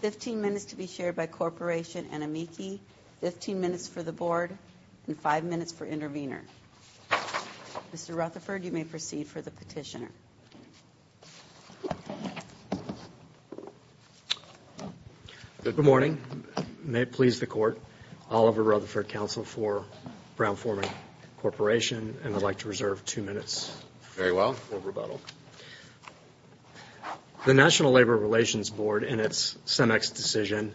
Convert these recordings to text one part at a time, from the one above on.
15 minutes to be shared by Corporation and Amici, 15 minutes for the Board, and 5 minutes for intervener. Mr. Rutherford, you may proceed for the petitioner. Good morning. May it please the Court, Oliver Rutherford, Counsel for BrownForman Corporation, and I'd like to reserve 2 minutes for rebuttal. The National Labor Relations Board, in its CEMEX decision,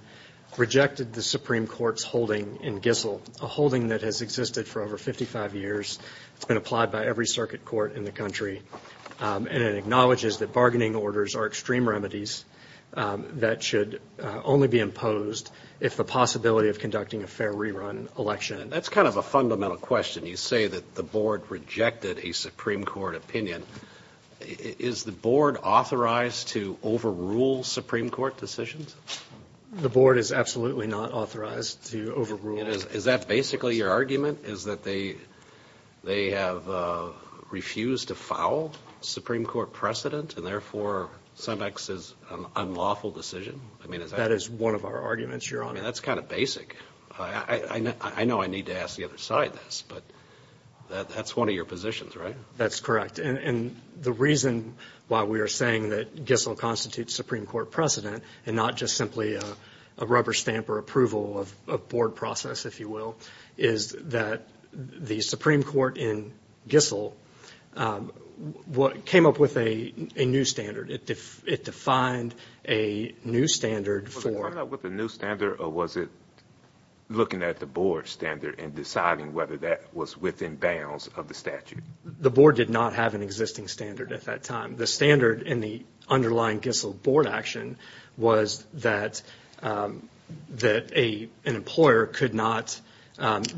rejected the Supreme Court's holding in Gissel, a holding that has existed for over 55 years. It's been applied by every circuit court in the country, and it acknowledges that bargaining orders are extreme remedies that should only be imposed if the possibility of conducting a fair rerun election. That's kind of a fundamental question. You say that the Board rejected a Supreme Court opinion. Is the Board authorized to overrule Supreme Court decisions? The Board is absolutely not authorized to overrule. Is that basically your argument, is that they have refused to foul a Supreme Court precedent and therefore CEMEX is an unlawful decision? That is one of our arguments, Your Honor. That's kind of basic. I know I need to ask the other side this, but that's one of your positions, right? That's correct, and the reason why we are saying that Gissel constitutes a Supreme Court precedent and not just simply a rubber stamp or approval of a Board process, if you will, is that the Supreme Court in Gissel came up with a new standard. It defined a new standard for— Was it coming up with a new standard, or was it looking at the Board standard and deciding whether that was within bounds of the statute? The Board did not have an existing standard at that time. The standard in the underlying Gissel Board action was that an employer could not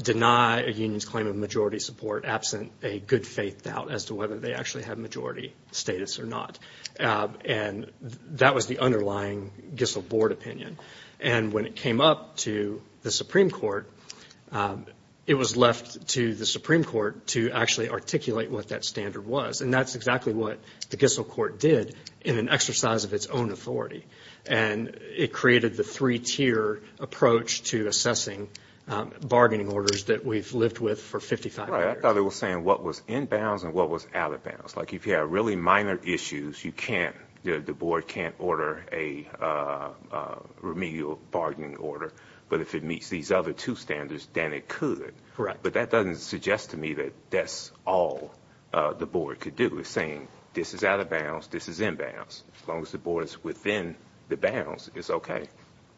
deny a union's claim of majority support absent a good faith doubt as to whether they actually had majority status or not. That was the underlying Gissel Board opinion, and when it came up to the Supreme Court, it was left to the Supreme Court to actually articulate what that standard was, and that's exactly what the Gissel Court did in an exercise of its own authority, and it created the three-tier approach to assessing bargaining orders that we've lived with for 55 years. Right. I thought it was saying what was in bounds and what was out of bounds. Like, if you have really minor issues, you can't—the Board can't order a remedial bargaining order, but if it meets these other two standards, then it could, but that doesn't suggest to me that that's all the Board could do. It's saying this is out of bounds, this is in bounds. As long as the Board is within the bounds, it's okay.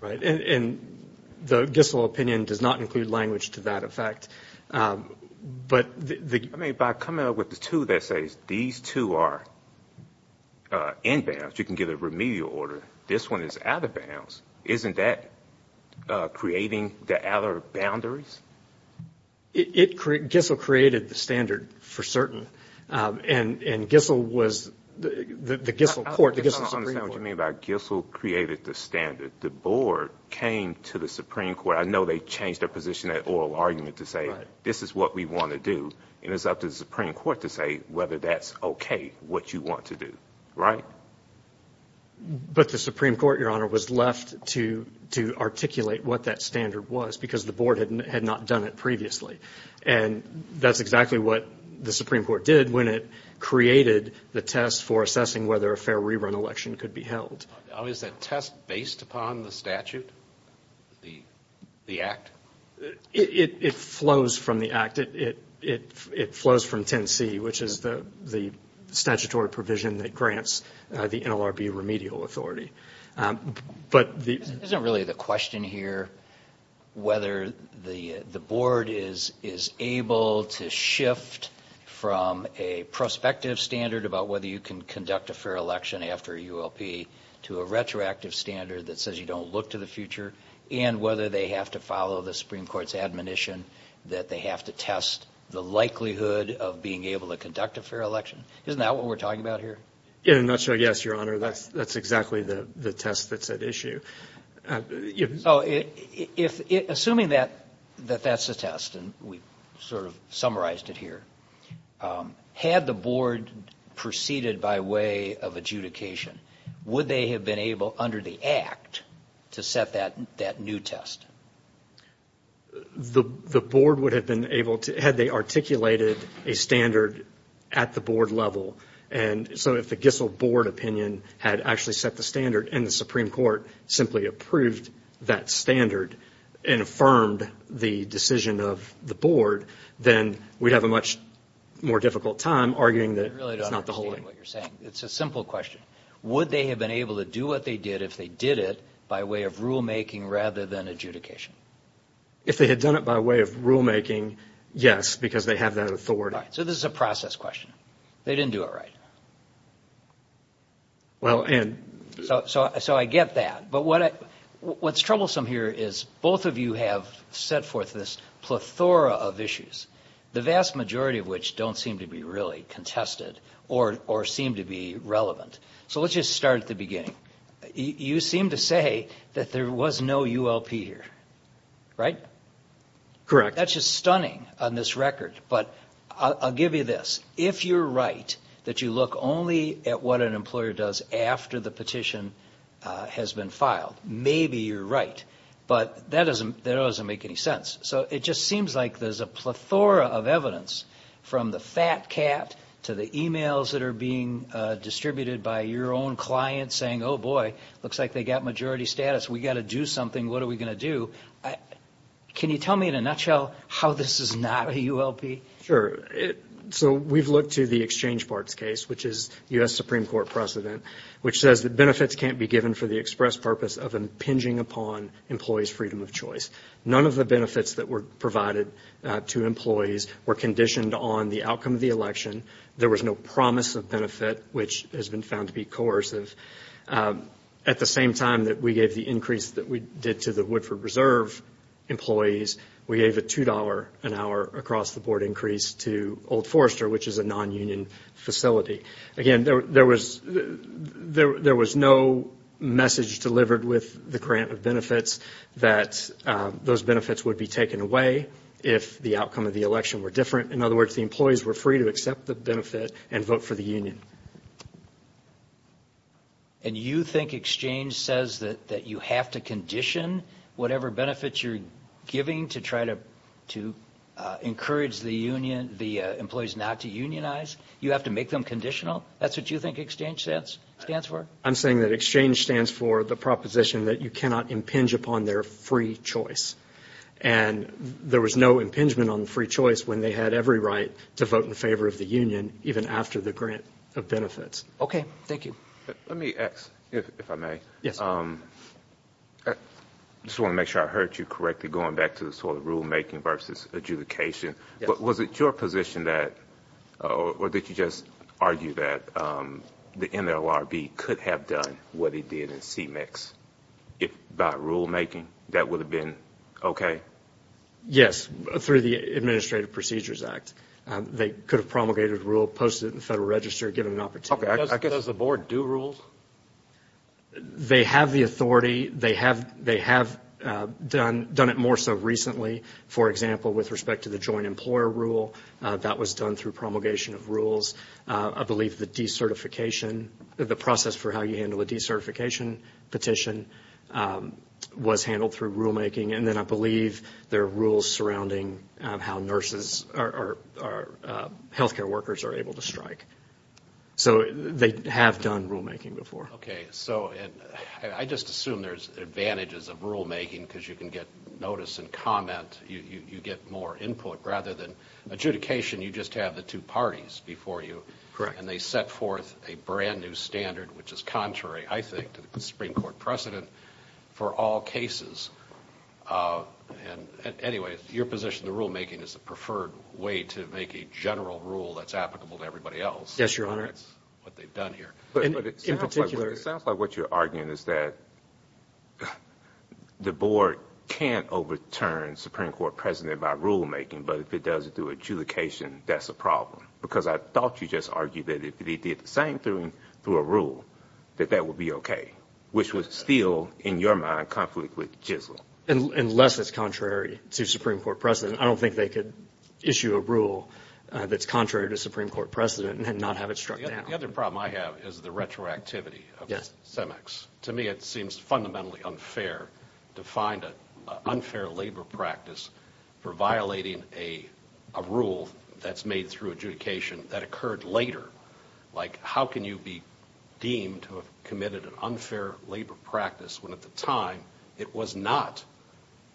Right, and the Gissel opinion does not include language to that effect, but the— I mean, by coming up with the two that says these two are in bounds, you can give a remedial order. This one is out of bounds. Isn't that creating the outer boundaries? It—Gissel created the standard for certain, and Gissel was—the Gissel Court— I don't understand what you mean by Gissel created the standard. The Board came to the Supreme Court. I know they changed their position, that oral argument, to say, this is what we want to do, and it's up to the Supreme Court to say whether that's okay, what you want to do, right? But the Supreme Court, Your Honor, was left to articulate what that standard was because the Board had not done it previously, and that's exactly what the Supreme Court did when it created the test for assessing whether a fair rerun election could be held. Is that test based upon the statute? The act? It flows from the act. It flows from 10C, which is the statutory provision that grants the NLRB remedial authority. Isn't really the question here whether the Board is able to shift from a prospective standard about whether you can conduct a fair election after a ULP to a retroactive standard that says you don't look to the future, and whether they have to follow the Supreme Court's admonition that they have to test the likelihood of being able to conduct a fair election? Isn't that what we're talking about here? In a nutshell, yes, Your Honor. That's exactly the test that's at issue. Assuming that that's the test, and we've sort of summarized it here, had the Board proceeded by way of adjudication, would they have been able, under the act, to set that new test? The Board would have been able to, had they articulated a standard at the Board level, and so if the Gissel Board opinion had actually set the standard and the Supreme Court simply approved that standard and affirmed the decision of the Board, then we'd have a much more difficult time arguing that it's not the holding. I really don't understand what you're saying. It's a simple question. Would they have been able to do it by way of rulemaking rather than adjudication? If they had done it by way of rulemaking, yes, because they have that authority. So this is a process question. They didn't do it right. So I get that, but what's troublesome here is both of you have set forth this plethora of issues, the vast majority of which don't seem to be really contested or seem to be contested. There's no ULP here, right? Correct. That's just stunning on this record, but I'll give you this. If you're right that you look only at what an employer does after the petition has been filed, maybe you're right, but that doesn't make any sense. So it just seems like there's a plethora of evidence, from the fat cat to the emails that are being distributed by your own client saying, oh boy, looks like they got majority status. We got to do something. What are we going to do? Can you tell me in a nutshell how this is not a ULP? Sure. So we've looked to the Exchange Parts case, which is U.S. Supreme Court precedent, which says that benefits can't be given for the express purpose of impinging upon employees' freedom of choice. None of the benefits that were provided to employees were conditioned on the outcome of the election. There was no promise of benefit, which has been found to be coercive. At the same time that we gave the increase that we did to the Woodford Reserve employees, we gave a $2 an hour across-the-board increase to Old Forrester, which is a non-union facility. Again, there was no message delivered with the grant of benefits that those benefits would be taken away if the outcome of the election were different. In other words, the employees were free to accept the benefit and vote for the union. And you think Exchange says that you have to condition whatever benefits you're giving to try to encourage the employees not to unionize? You have to make them conditional? That's what you think Exchange stands for? I'm saying that Exchange stands for the proposition that you cannot impinge upon their free choice. And there was no impingement on the free choice when they had every right to vote in favor of the union, even after the grant of benefits. Okay. Thank you. Let me ask, if I may. I just want to make sure I heard you correctly going back to the sort of rulemaking versus adjudication. Was it your position that, or did you just argue that the NLRB could have done what it did in CMEX by rulemaking? That would have been okay. Yes, through the Administrative Procedures Act. They could have promulgated a rule, posted it in the Federal Register, given an opportunity. Does the Board do rules? They have the authority. They have done it more so recently. For example, with respect to the joint employer rule, that was done through promulgation of rules. I believe the decertification, the process for how you handle a decertification petition was handled through rulemaking. And then I believe there are rules surrounding how nurses or healthcare workers are able to strike. So they have done rulemaking before. Okay. So I just assume there's advantages of rulemaking because you can get notice and comment. You get more input rather than adjudication. You just have the two parties before you. Correct. And they set forth a brand new standard, which is contrary, I think, to the Supreme Court precedent for all cases. And anyway, your position, the rulemaking is the preferred way to make a general rule that's applicable to everybody else. Yes, Your Honor. That's what they've done here. But it sounds like what you're arguing is that the Board can't overturn Supreme Court precedent by rulemaking, but if it does it through adjudication, that's a problem. Because I thought you just argued that if they did the same thing through a rule, that that would be okay, which was still, in your mind, conflict with JISL. Unless it's contrary to Supreme Court precedent. I don't think they could issue a rule that's contrary to Supreme Court precedent and not have it struck down. The other problem I have is the retroactivity of CEMEX. To me, it seems fundamentally unfair to find an unfair labor practice for violating a rule that's made through adjudication that occurred later. Like, how can you be deemed to have committed an unfair labor practice when at the time it was not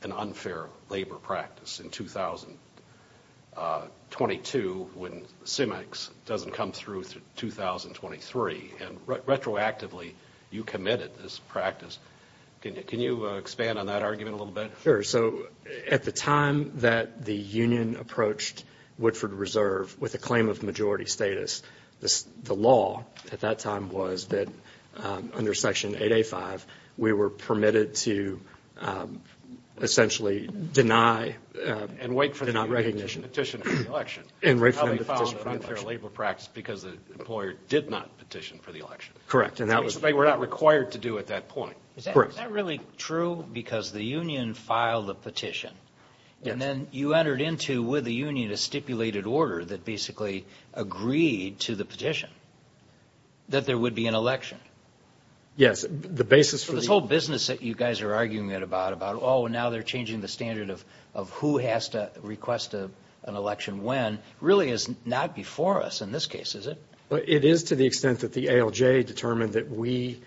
an unfair labor practice in 2022 when CEMEX doesn't come through through 2023? And retroactively, you committed this practice. Can you expand on that argument a little bit? Sure. So, at the time that the union approached Woodford Reserve with a claim of majority status, the law at that time was that under Section 8A5, we were permitted to essentially deny and wait for the union to petition for the election. And wait for them to petition for the election. And how they found an unfair labor practice because the employer did not petition for the election. Correct. Which they were not required to do at that point. Correct. Is that really true? Because the union filed a petition and then you entered into, with the union, a stipulated order that basically agreed to the petition that there would be an election. Yes. The basis for... This whole business that you guys are arguing about, about, oh, now they're changing the standard of who has to request an election when, really is not before us in this case, is it? It is to the extent that the ALJ determined that we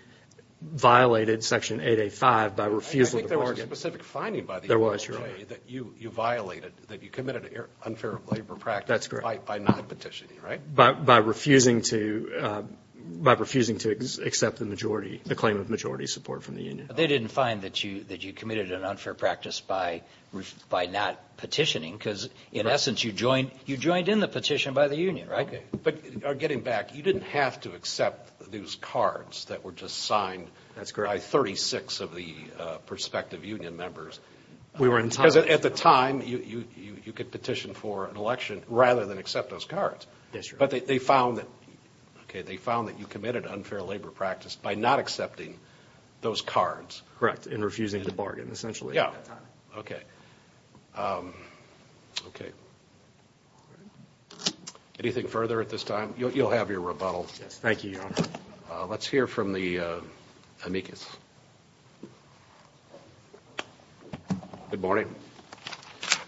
violated Section 8A5 by refusal to I think there was a specific finding by the ALJ that you violated, that you committed an unfair labor practice by not petitioning, right? By refusing to accept the majority, the claim of majority support from the union. They didn't find that you committed an unfair practice by not petitioning because, in essence, you joined in the petition by the union, right? But getting back, you didn't have to accept those cards that were just signed by 36 of the prospective union members. We were entitled to. Because at the time, you could petition for an election rather than accept those cards. But they found that, okay, they found that you committed an unfair labor practice by not accepting those cards. Correct, and refusing to bargain, essentially, at that time. Okay. Okay. Anything further at this time? You'll have your rebuttal. Yes, thank you, Your Honor. Let's hear from the amicus. Good morning.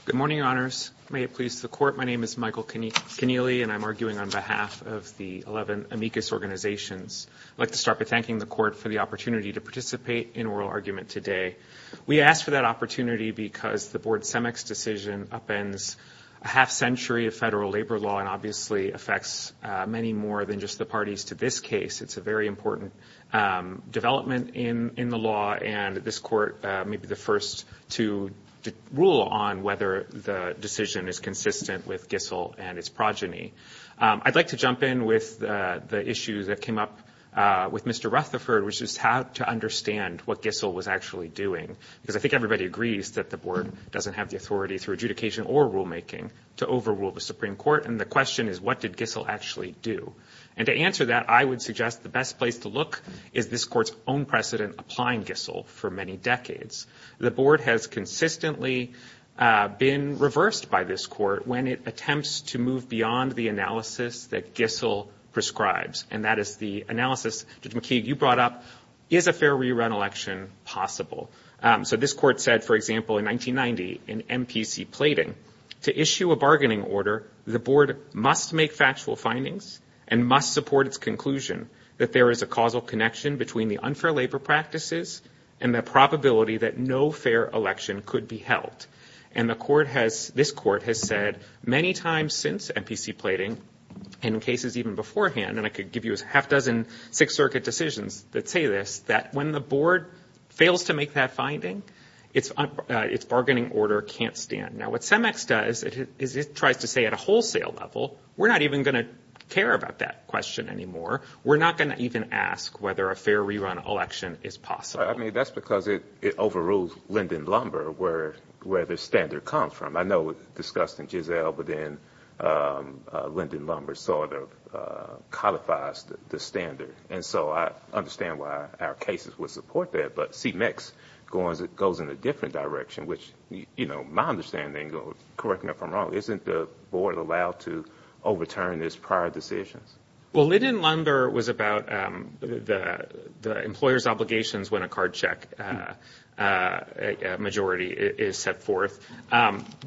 Good morning, Your Honors. May it please the Court. My name is Michael Keneally, and I'm arguing on behalf of the 11 amicus organizations. I'd like to start by thanking the Court for the opportunity to participate in oral argument today. We asked for that opportunity because the Board Semex decision upends a half century of federal labor law and obviously affects many more than just the parties to this case. It's a very important development in the law, and this Court may be the first to rule on whether the decision is consistent with Gissel and its progeny. I'd like to jump in with the issue that came up with Mr. Rutherford, which is how to understand what Gissel was actually doing, because I think everybody agrees that the Board doesn't have the authority through adjudication or rulemaking to overrule the Supreme Court, and the question is, what did Gissel actually do? And to answer that, I would suggest the best place to look is this Court's own precedent applying Gissel for many decades. The Board has consistently been reversed by this Court when it attempts to move beyond the analysis that Gissel prescribes, and that is the analysis, Judge McKeague, you brought up, is a fair rerun election possible? So this Court said, for example, in 1990 in MPC plating, to issue a bargaining order, the Board must make factual findings and must support its conclusion that there is a causal connection between the unfair labor practices and the probability that no fair election could be held. And this Court has said many times since MPC plating, and in cases even beforehand, and I could give you a half-dozen Sixth Circuit decisions that say this, that when the Board fails to make that finding, its bargaining order can't stand. Now what CEMEX does is it tries to say at a wholesale level, we're not even going to care about that question anymore, we're not going to even ask whether a fair rerun election is possible. I mean, that's because it overrules Linden Lumber, where the standard comes from. I know it was discussed in Giselle, but then Linden Lumber sort of codifies the standard. And so I understand why our cases would support that, but CEMEX goes in a different direction, which my understanding, correct me if I'm wrong, isn't the Board allowed to overturn its prior decisions? Well, Linden Lumber was about the employer's obligations when a card check majority is set forth.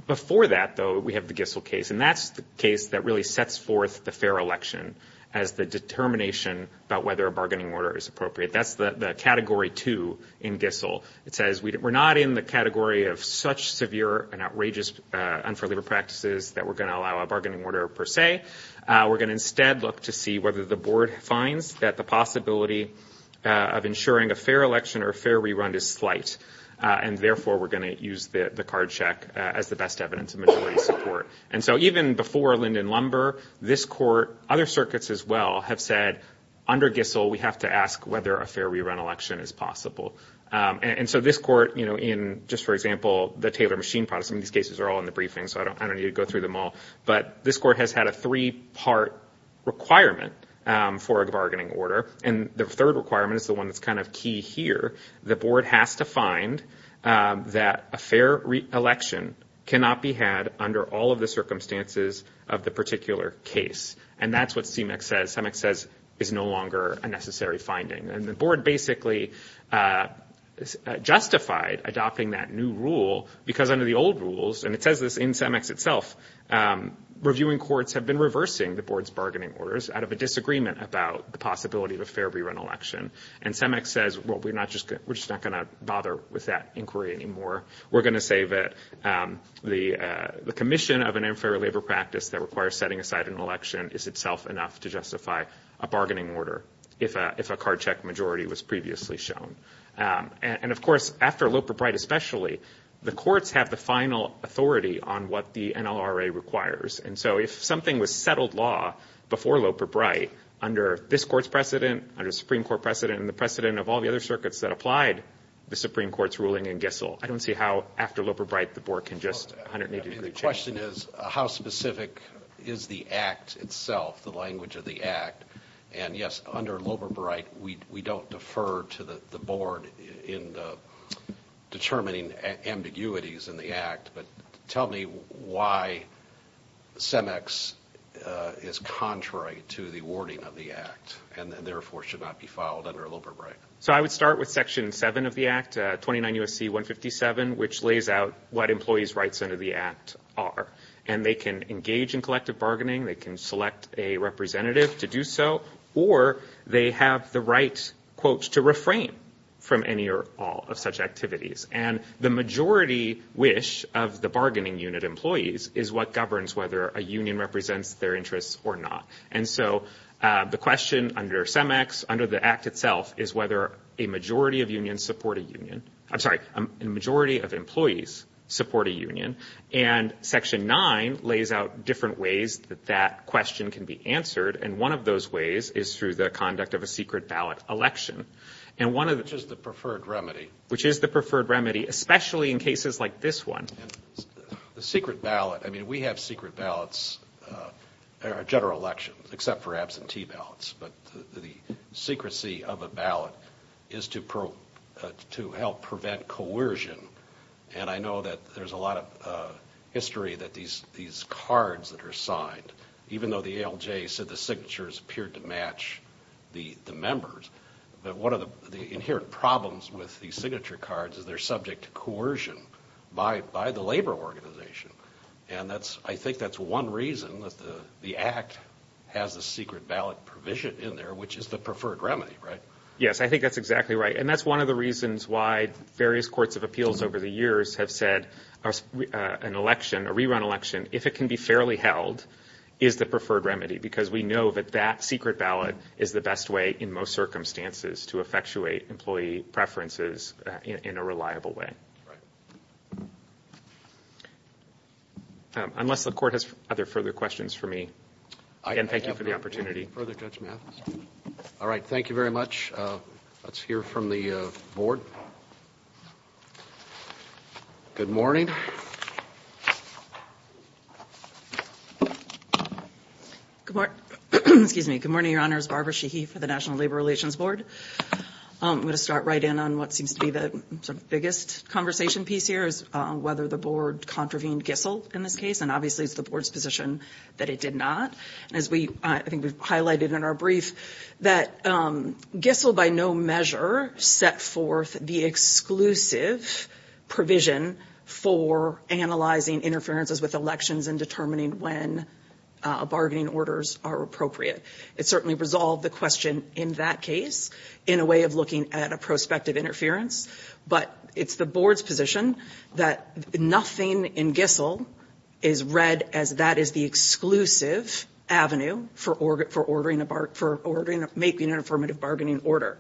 Before that, though, we have the Giselle case, and that's the case that really sets forth the fair election as the determination about whether a bargaining order is appropriate. That's the category two in Giselle. It says we're not in the category of such severe and outrageous unfair labor practices that we're going to allow a bargaining order per se. We're going to instead look to see whether the Board finds that the possibility of ensuring a fair election or a fair rerun is slight, and therefore, we're going to use the card check as the best evidence of majority support. And so even before Linden Lumber, this Court, other circuits as well, have said, under Giselle, we have to ask whether a fair rerun election is possible. And so this Court, you know, in just, for example, the Taylor machine products, I mean, these cases are all in the briefing, so I don't need to go through them all. But this Court has had a three-part requirement for a bargaining order, and the third requirement is the one that's kind of key here. The Board has to find that a fair election cannot be had under all of the circumstances of the particular case. And that's what CMEX says, CMEX says is no longer a necessary finding. And the Board basically justified adopting that new rule because under the old rules, and it says this in CMEX itself, reviewing courts have been reversing the Board's bargaining orders out of a disagreement about the possibility of a fair rerun election. And CMEX says, well, we're just not going to bother with that inquiry anymore. We're going to say that the commission of an unfair labor practice that requires setting aside an election is itself enough to justify a bargaining order if a card check majority was previously shown. And of course, after Loper-Bright especially, the courts have the final authority on what the NLRA requires. And so if something was settled law before Loper-Bright under this court's precedent, under Supreme Court precedent, and the precedent of all the other circuits that applied the Supreme Court's ruling in Gissel, I don't see how after Loper-Bright the Board can just 180-degree change. The question is, how specific is the Act itself, the language of the Act? And yes, under Loper-Bright, we don't defer to the Board in determining ambiguities in the Act, but tell me why CMEX is contrary to the wording of the Act and therefore should not be filed under Loper-Bright. So I would start with Section 7 of the Act, 29 U.S.C. 157, which lays out what employees' rights under the Act are. And they can engage in collective bargaining, they can select a representative to do so, or they have the right, quote, to refrain from any or all of such activities. And the majority wish of the bargaining unit employees is what governs whether a union represents their interests or not. And so the question under CMEX, under the Act itself, is whether a majority of unions support a union, I'm sorry, a majority of employees support a union. And Section 9 lays out different ways that that question can be answered, and one of those ways is through the conduct of a secret ballot election. And one of the... Which is the preferred remedy. Which is the preferred remedy, especially in cases like this one. The secret ballot, I mean, we have secret ballots at our general elections, except for absentee ballots, but the secrecy of a ballot is to help prevent coercion. And I know that there's a lot of history that these cards that are signed, even though the ALJ said the signatures appeared to match the members, that one of the inherent problems with these signature cards is they're subject to coercion by the labor organization. And that's, I think that's one reason that the Act has a secret ballot provision in there, which is the preferred remedy, right? Yes, I think that's exactly right. And that's one of the reasons why various courts of appeals over the years have said an election, a rerun election, if it can be fairly held, is the preferred remedy. Because we know that that secret ballot is the best way in most circumstances to effectuate employee preferences in a reliable way. Unless the court has other further questions for me, again, thank you for the opportunity. Further judgment. All right. Thank you very much. Let's hear from the board. Good morning. Good morning. Excuse me. I'm going to start right in on what seems to be the biggest conversation piece here, is whether the board contravened Gissel in this case. And obviously it's the board's position that it did not. As I think we've highlighted in our brief, that Gissel by no measure set forth the exclusive provision for analyzing interferences with elections and determining when bargaining orders are appropriate. It certainly resolved the question in that case, in a way of looking at a prospective interference. But it's the board's position that nothing in Gissel is read as that is the exclusive avenue for making an affirmative bargaining order.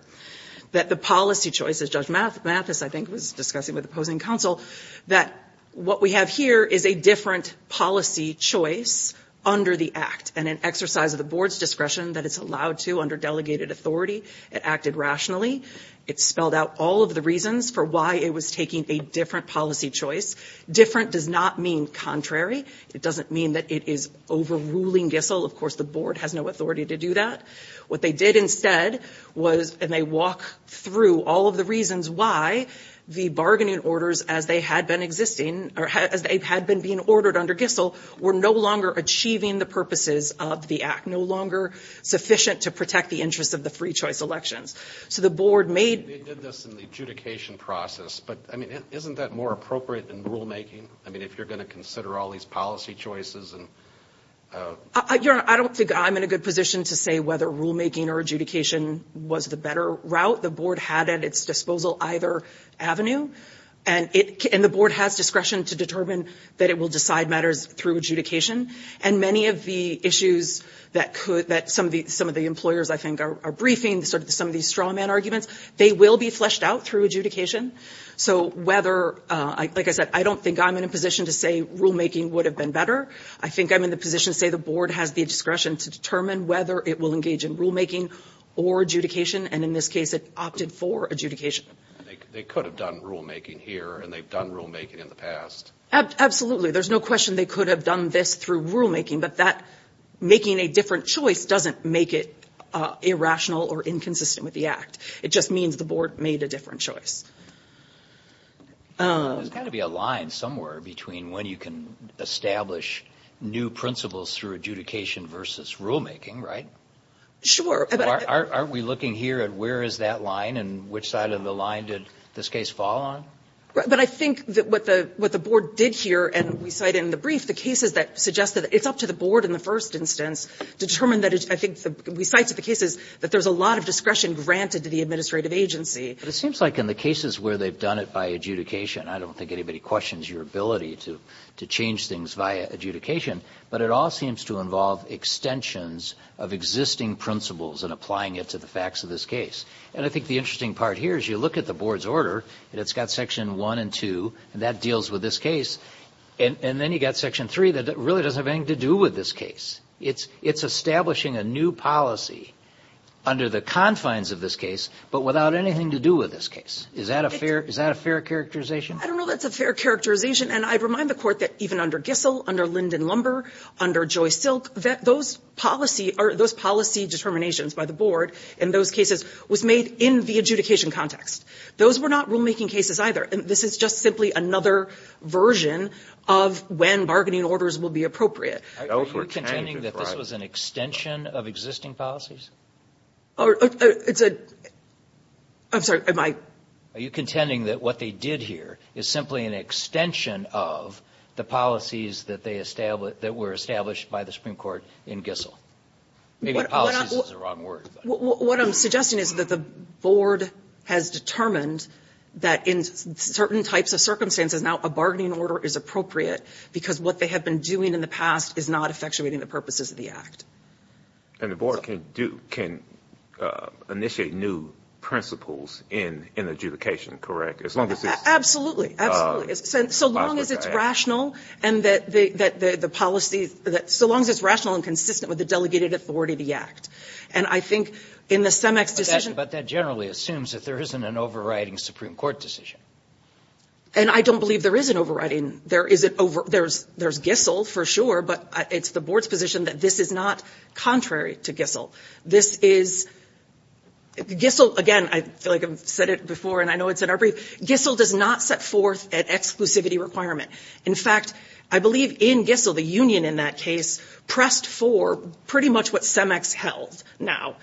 That the policy choice, as Judge Mathis, I think, was discussing with opposing counsel, that what we have here is a different policy choice under the act. And an exercise of the board's discretion that it's allowed to under delegated authority. It acted rationally. It spelled out all of the reasons for why it was taking a different policy choice. Different does not mean contrary. It doesn't mean that it is overruling Gissel. Of course, the board has no authority to do that. What they did instead was, and they walk through all of the reasons why, the bargaining orders as they had been existing, or as they had been being ordered under Gissel, were no longer achieving the purposes of the act. No longer sufficient to protect the interests of the free choice elections. So the board made... They did this in the adjudication process, but, I mean, isn't that more appropriate than rulemaking? I mean, if you're going to consider all these policy choices and... I don't think I'm in a good position to say whether rulemaking or adjudication was the better route. The board had at its disposal either avenue. And the board has discretion to determine that it will decide matters through adjudication. And many of the issues that some of the employers, I think, are briefing, some of these straw man arguments, they will be fleshed out through adjudication. So whether... Like I said, I don't think I'm in a position to say rulemaking would have been better. I think I'm in the position to say the board has the discretion to determine whether it will engage in rulemaking or adjudication. And in this case, it opted for adjudication. They could have done rulemaking here, and they've done rulemaking in the past. There's no question they could have done this through rulemaking, but that... Making a different choice doesn't make it irrational or inconsistent with the act. It just means the board made a different choice. There's got to be a line somewhere between when you can establish new principles through adjudication versus rulemaking, right? Sure. So aren't we looking here at where is that line and which side of the line did this case fall on? But I think that what the board did here, and we cite in the brief, the cases that suggest that it's up to the board in the first instance to determine that it's, I think, we cite to the cases that there's a lot of discretion granted to the administrative agency. But it seems like in the cases where they've done it by adjudication, I don't think anybody questions your ability to change things via adjudication, but it all seems to involve extensions of existing principles and applying it to the facts of this case. And I think the interesting part here is you look at the board's order, and it's got Section 1 and 2, and that deals with this case. And then you've got Section 3 that really doesn't have anything to do with this case. It's establishing a new policy under the confines of this case, but without anything to do with this case. Is that a fair characterization? I don't know that's a fair characterization. And I remind the Court that even under Gissell, under Linden Lumber, under Joyce Silk, that those policy or those policy determinations by the board in those cases was made in the adjudication context. Those were not rulemaking cases either. This is just simply another version of when bargaining orders will be appropriate. Are you contending that this was an extension of existing policies? It's a – I'm sorry, am I? Are you contending that what they did here is simply an extension of the policies that they – that were established by the Supreme Court in Gissell? Maybe policies is the wrong word. What I'm suggesting is that the board has determined that in certain types of circumstances now a bargaining order is appropriate because what they have been doing in the past is not effectuating the purposes of the act. And the board can do – can initiate new principles in adjudication, correct? As long as it's – Absolutely. Absolutely. So long as it's rational and that the policies – so long as it's rational and consistent with the Delegated Authority Act. And I think in the CEMEX decision – But that generally assumes that there isn't an overriding Supreme Court decision. And I don't believe there is an overriding – there is an – there's Gissell for sure, but it's the board's position that this is not contrary to Gissell. This is – Gissell, again, I feel like I've said it before and I know it's in our brief. Gissell does not set forth an exclusivity requirement. In fact, I believe in Gissell, the union in that case pressed for pretty much what CEMEX held now.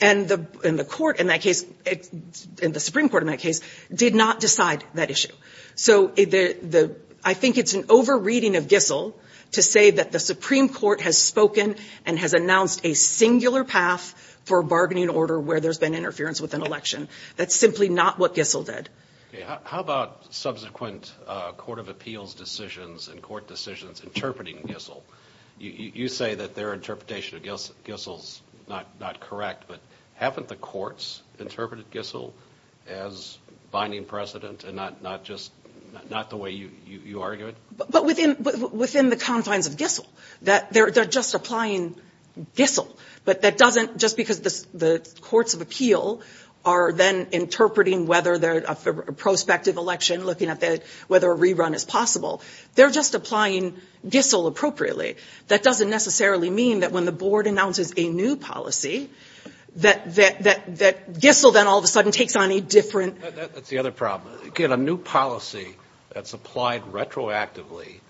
And the court in that case – and the Supreme Court in that case did not decide that issue. So the – I think it's an overreading of Gissell to say that the Supreme Court has spoken and has announced a singular path for a bargaining order where there's been interference with an election. That's simply not what Gissell did. How about subsequent court of appeals decisions and court decisions interpreting Gissell? You say that their interpretation of Gissell's not correct, but haven't the courts interpreted Gissell as binding precedent and not just – not the way you argue it? But within the confines of Gissell, that they're just applying Gissell. But that doesn't – just because the courts of appeal are then interpreting whether a prospective election, looking at whether a rerun is possible, they're just applying Gissell appropriately. That doesn't necessarily mean that when the board announces a new policy that Gissell then all of a sudden takes on a different – That's the other problem. Again, a new policy that's applied retroactively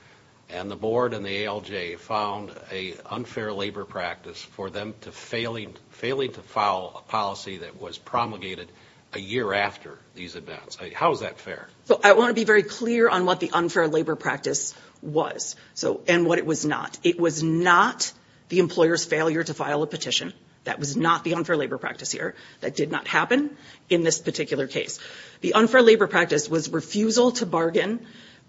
and the board and the ALJ found an unfair labor practice for them to failing to file a policy that was promulgated a year after these events. How is that fair? I want to be very clear on what the unfair labor practice was and what it was not. It was not the employer's failure to file a petition. That was not the unfair labor practice here. That did not happen in this particular case. The unfair labor practice was refusal to bargain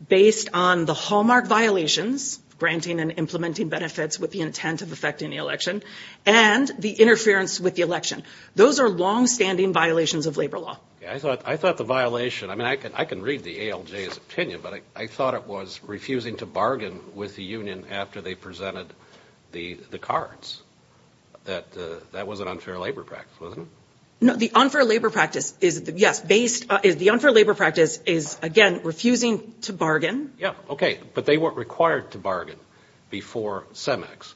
based on the hallmark violations, granting and implementing benefits with the intent of affecting the election, and the interference with the election. Those are longstanding violations of labor law. I thought the violation – I mean, I can read the ALJ's opinion, but I thought it was refusing to bargain with the union after they presented the cards. That was an unfair labor practice, wasn't it? No, the unfair labor practice is – yes, based – the unfair labor practice is, again, refusing to bargain. Yeah, okay. But they weren't required to bargain before CEMEX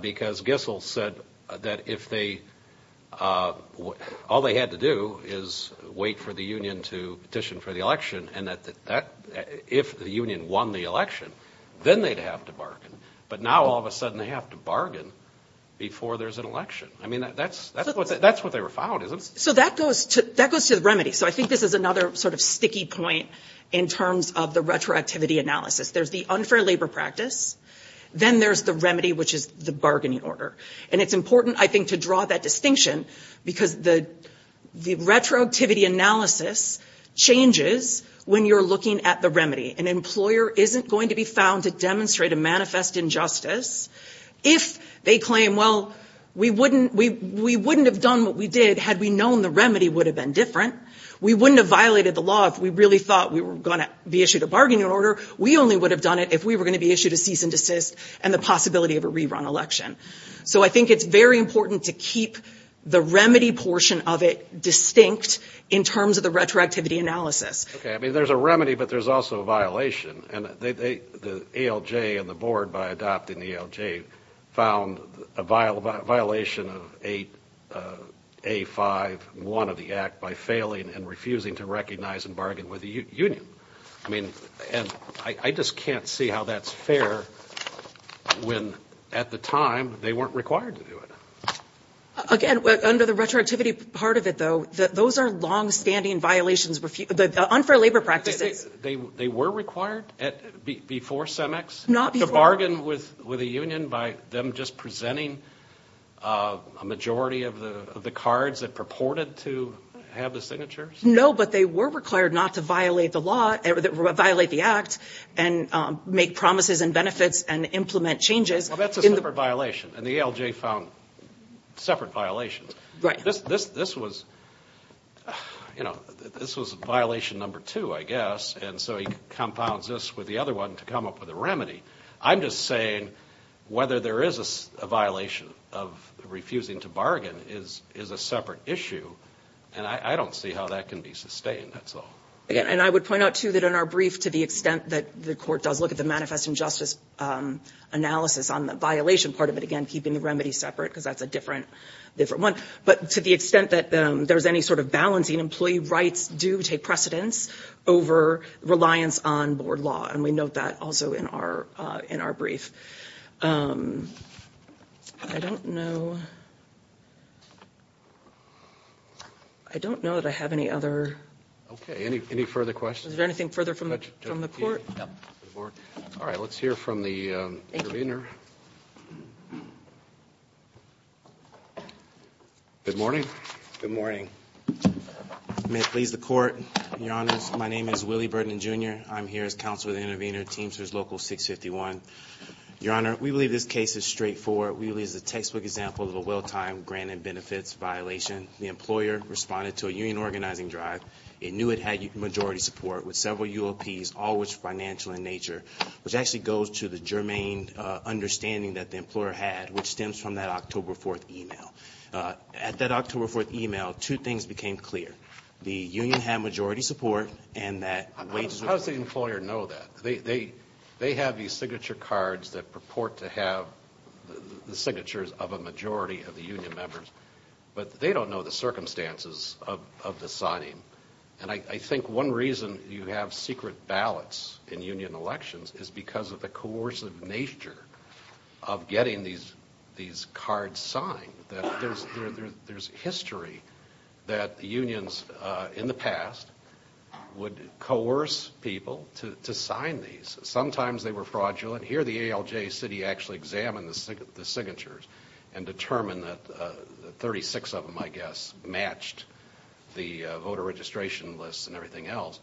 because Gissel said that if they – all they had to do is wait for the union to petition for the election and that if the union won the election, then they'd have to bargain. But now, all of a sudden, they have to bargain before there's an election. I mean, that's what they were found, isn't it? So that goes to the remedy. So I think this is another sort of sticky point in terms of the retroactivity analysis. There's the unfair labor practice, then there's the remedy, which is the bargaining order. And it's important, I think, to draw that distinction because the retroactivity analysis changes when you're looking at the remedy. An employer isn't going to be found to demonstrate a manifest injustice if they claim, well, we wouldn't – we wouldn't have done what we did had we known the remedy would have been different. We wouldn't have violated the law if we really thought we were going to be issued a bargaining order. We only would have done it if we were going to be issued a cease and desist and the possibility of a rerun election. So I think it's very important to keep the remedy portion of it distinct in terms of the retroactivity analysis. Okay. I mean, there's a remedy, but there's also a violation. And they – the ALJ and the board, by adopting the ALJ, found a violation of 8A5-1 of the act by failing and refusing to recognize and bargain with the union. I mean, and I just can't see how that's fair when at the time they weren't required to do it. Again, under the retroactivity part of it, though, those are longstanding violations – the unfair labor practices. They were required before CEMEX to bargain with the union by them just presenting a majority of the cards that purported to have the signatures? No, but they were required not to violate the law – violate the act and make promises and benefits and implement changes. Well, that's a separate violation. And the ALJ found separate violations. Right. This was – you know, this was violation number two, I guess. And so he compounds this with the other one to come up with a remedy. I'm just saying whether there is a violation of refusing to bargain is a separate issue. And I don't see how that can be sustained, that's all. And I would point out, too, that in our brief, to the extent that the court does look at the manifest injustice analysis on the violation part of it – again, keeping the remedy separate because that's a different one – but to the extent that there's any sort of balancing, employee rights do take precedence over reliance on board law. And we note that also in our brief. I don't know. I don't know that I have any other – Okay. Any further questions? Is there anything further from the court? No. All right. Let's hear from the intervener. Good morning. Good morning. May it please the Court, Your Honors. My name is Willie Burton, Jr. I'm here as counsel of the intervener, Teamsters Local 651. Your Honor, we believe this case is straightforward. We believe it's a textbook example of a well-timed grant and benefits violation. The employer responded to a union organizing drive. It knew it had majority support with several UOPs, all of which were financial in nature, which actually goes to the germane understanding that the employer had, which stems from that October 4th email. At that October 4th email, two things became clear. The union had majority support and that wages were – How does the employer know that? They have these signature cards that purport to have the signatures of a majority of the union members, but they don't know the circumstances of the signing. And I think one reason you have secret ballots in union elections is because of the coercive nature of getting these cards signed. There's history that unions in the past would coerce people to sign these. Sometimes they were fraudulent. Here the ALJ city actually examined the signatures and determined that 36 of them, I guess, matched the voter registration lists and everything else.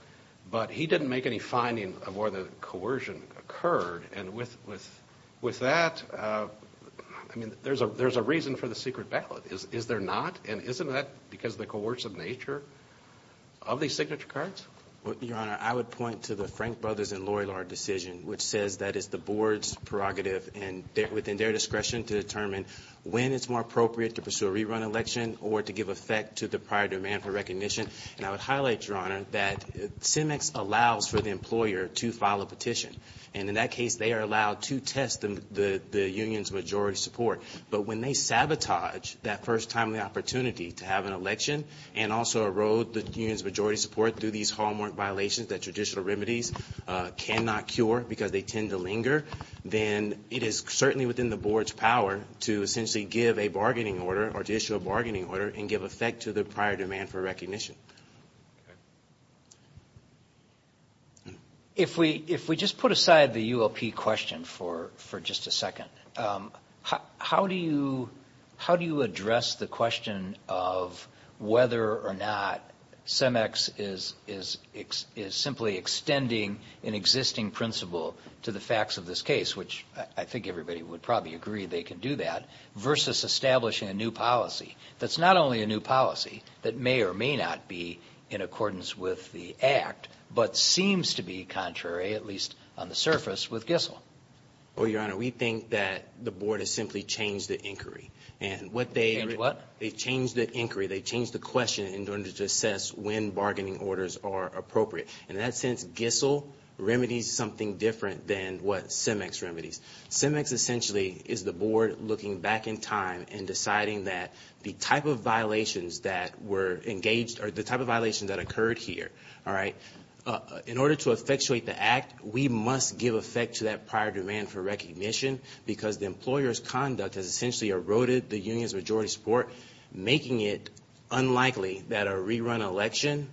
But he didn't make any finding of where the coercion occurred. And with that, I mean, there's a reason for the secret ballot. Is there not? And isn't that because of the coercive nature of these signature cards? Your Honor, I would point to the Frank Brothers and Loy Lard decision, which says that it's the board's prerogative, and within their discretion, to determine when it's more appropriate to pursue a rerun election or to give effect to the prior demand for recognition. And I would highlight, Your Honor, that CEMEX allows for the employer to file a petition. And in that case, they are allowed to test the union's majority support. But when they sabotage that first timely opportunity to have an election and also erode the union's majority support through these hallmark violations that traditional remedies cannot cure because they tend to linger, then it is certainly within the board's power to essentially give a bargaining order or to issue a bargaining order and give effect to the prior demand for recognition. Okay. If we just put aside the ULP question for just a second, how do you address the question of whether or not CEMEX is simply extending an existing principle to the facts of this case, which I think everybody would probably agree they can do that, versus establishing a new policy that's not only a new policy that may or may not be in accordance with the Act, but seems to be contrary, at least on the surface, with GISSEL? Well, Your Honor, we think that the board has simply changed the inquiry. Changed what? They changed the inquiry. They changed the question in order to assess when bargaining orders are appropriate. In that sense, GISSEL remedies something different than what CEMEX remedies. CEMEX essentially is the board looking back in time and deciding that the type of violations that were engaged or the type of violations that occurred here, all right, in order to effectuate the Act, we must give effect to that prior demand for recognition because the employer's conduct has essentially eroded the union's majority support, making it unlikely that a rerun election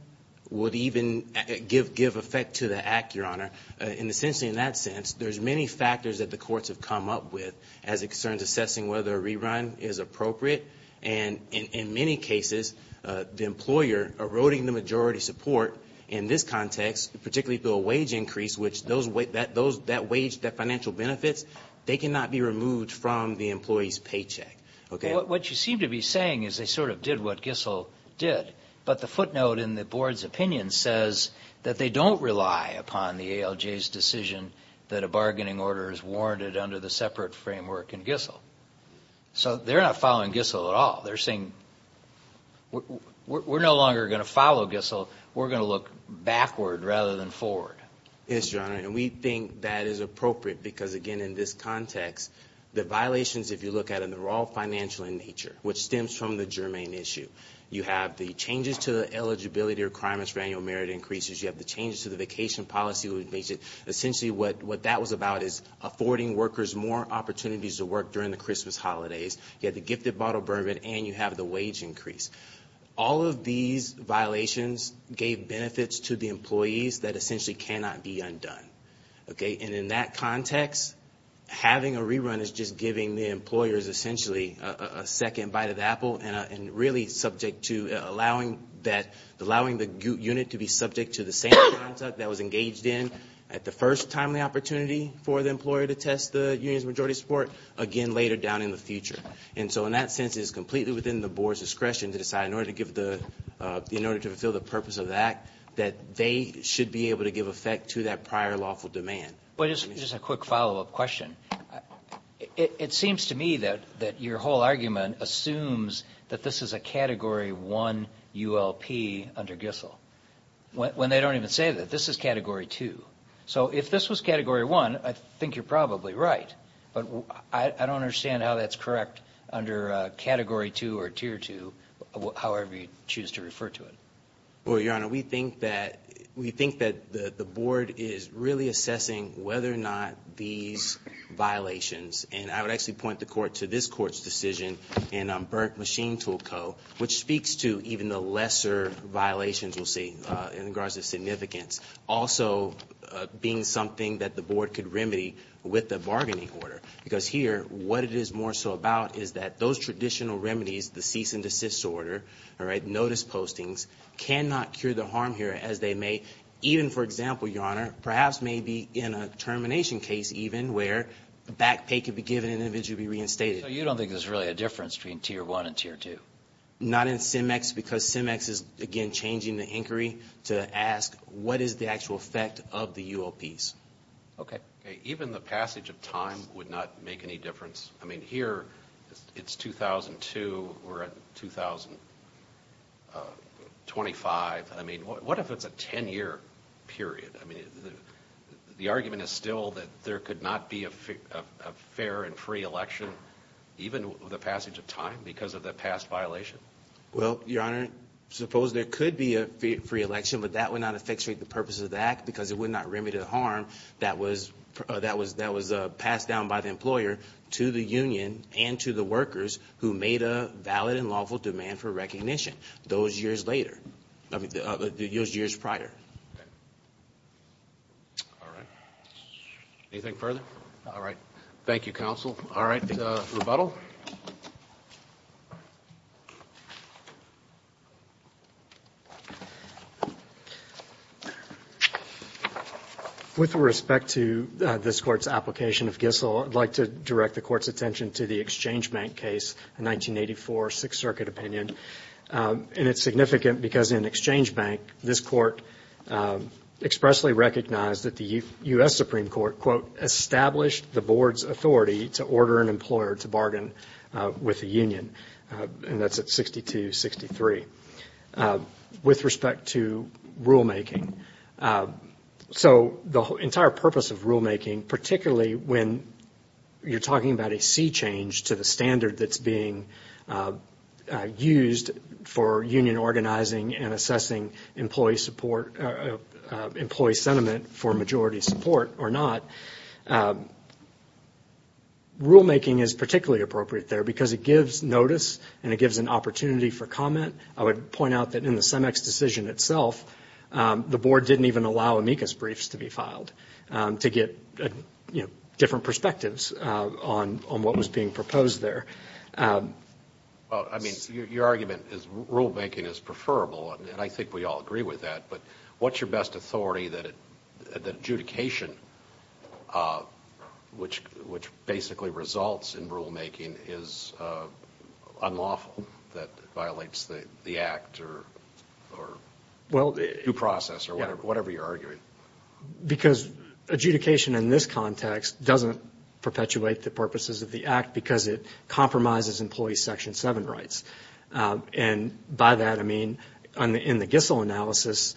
would even give effect to the Act, Your Honor. And essentially in that sense, there's many factors that the courts have come up with as it concerns assessing whether a rerun is appropriate. And in many cases, the employer eroding the majority support in this context, particularly through a wage increase, which that wage, the financial benefits, they cannot be removed from the employee's paycheck. Okay. What you seem to be saying is they sort of did what GISSEL did, but the footnote in the board's opinion says that they don't rely upon the ALJ's decision that a bargaining order is warranted under the separate framework in GISSEL. So they're not following GISSEL at all. They're saying we're no longer going to follow GISSEL. We're going to look backward rather than forward. Yes, Your Honor, and we think that is appropriate because, again, in this context, the violations, if you look at them, they're all financial in nature, which stems from the germane issue. You have the changes to the eligibility requirements for annual merit increases. You have the changes to the vacation policy. Essentially what that was about is affording workers more opportunities to work during the Christmas holidays. You have the gifted bottle bourbon, and you have the wage increase. All of these violations gave benefits to the employees that essentially cannot be undone. Okay. And in that context, having a rerun is just giving the employers essentially a second bite of the apple and really subject to allowing the unit to be subject to the same contract that was engaged in at the first timely opportunity for the employer to test the union's majority support, again, later down in the future. And so in that sense, it is completely within the board's discretion to decide, in order to fulfill the purpose of the act, that they should be able to give effect to that prior lawful demand. Just a quick follow-up question. It seems to me that your whole argument assumes that this is a Category 1 ULP under GISL, when they don't even say that. This is Category 2. So if this was Category 1, I think you're probably right, but I don't understand how that's correct under Category 2 or Tier 2, however you choose to refer to it. Well, Your Honor, we think that the board is really assessing whether or not these violations, and I would actually point the court to this court's decision in Burke Machine Tool Co., which speaks to even the lesser violations we'll see in regards to significance, also being something that the board could remedy with the bargaining order. Because here, what it is more so about is that those traditional remedies, the cease and desist order, notice postings, cannot cure the harm here as they may, even, for example, Your Honor, perhaps maybe in a termination case even, where back pay could be given and an individual be reinstated. So you don't think there's really a difference between Tier 1 and Tier 2? Not in CIMEX, because CIMEX is, again, changing the inquiry to ask what is the actual effect of the UOPs. Okay. Even the passage of time would not make any difference. I mean, here it's 2002, we're at 2025. I mean, what if it's a 10-year period? I mean, the argument is still that there could not be a fair and free election, even with the passage of time, because of the past violation. Well, Your Honor, suppose there could be a free election, but that would not effectuate the purpose of the act because it would not remedy the harm that was passed down by the employer to the union and to the workers who made a valid and lawful demand for recognition those years prior. All right. Anything further? All right. Thank you, counsel. All right. Rebuttal. With respect to this Court's application of Gissell, I'd like to direct the Court's attention to the Exchange Bank case, a 1984 Sixth Circuit opinion. And it's significant because in Exchange Bank, this Court expressly recognized that the U.S. Supreme Court, quote, established the Board's authority to order an employer to bargain with a union. And that's at 6263. With respect to rulemaking, so the entire purpose of rulemaking, particularly when you're talking about a sea change to the standard that's being used for union organizing and assessing employee sentiment for majority support or not, rulemaking is particularly appropriate there because it gives notice and it gives an opportunity for comment. I would point out that in the CEMEX decision itself, the Board didn't even allow amicus briefs to be filed to get, you know, different perspectives on what was being proposed there. Well, I mean, your argument is rulemaking is preferable, and I think we all agree with that. But what's your best authority that adjudication, which basically results in rulemaking, is unlawful, that violates the Act or due process or whatever you're arguing? Because adjudication in this context doesn't perpetuate the purposes of the Act because it compromises employee Section 7 rights. And by that, I mean, in the GISSL analysis,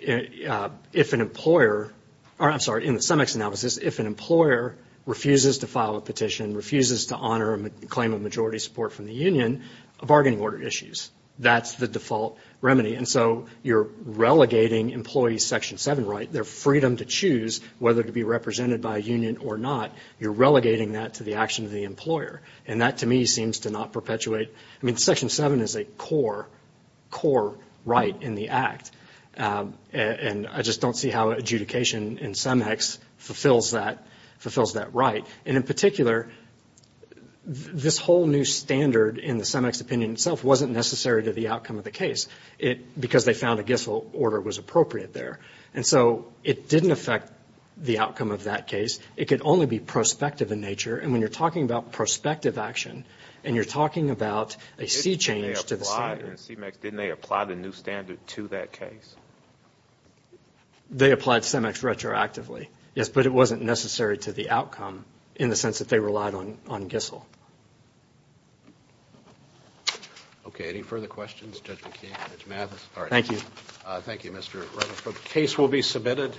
if an employer – or I'm sorry, in the CEMEX analysis, if an employer refuses to file a petition, refuses to honor a claim of majority support from the union, a bargaining order issues. That's the default remedy. And so you're relegating employee Section 7 right, their freedom to choose whether to be represented by a union or not, you're relegating that to the action of the employer. And that, to me, seems to not perpetuate – I mean, Section 7 is a core right in the Act. And I just don't see how adjudication in CEMEX fulfills that right. And in particular, this whole new standard in the CEMEX opinion itself wasn't necessary to the outcome of the case because they found a GISSL order was appropriate there. And so it didn't affect the outcome of that case. It could only be prospective in nature. And when you're talking about prospective action and you're talking about a C change to the standard. Didn't they apply the new standard to that case? They applied CEMEX retroactively, yes, but it wasn't necessary to the outcome in the sense that they relied on GISSL. Okay, any further questions? Judge McKeon, Judge Mathis? Thank you. Thank you, Mr. Rutherford. The case will be submitted.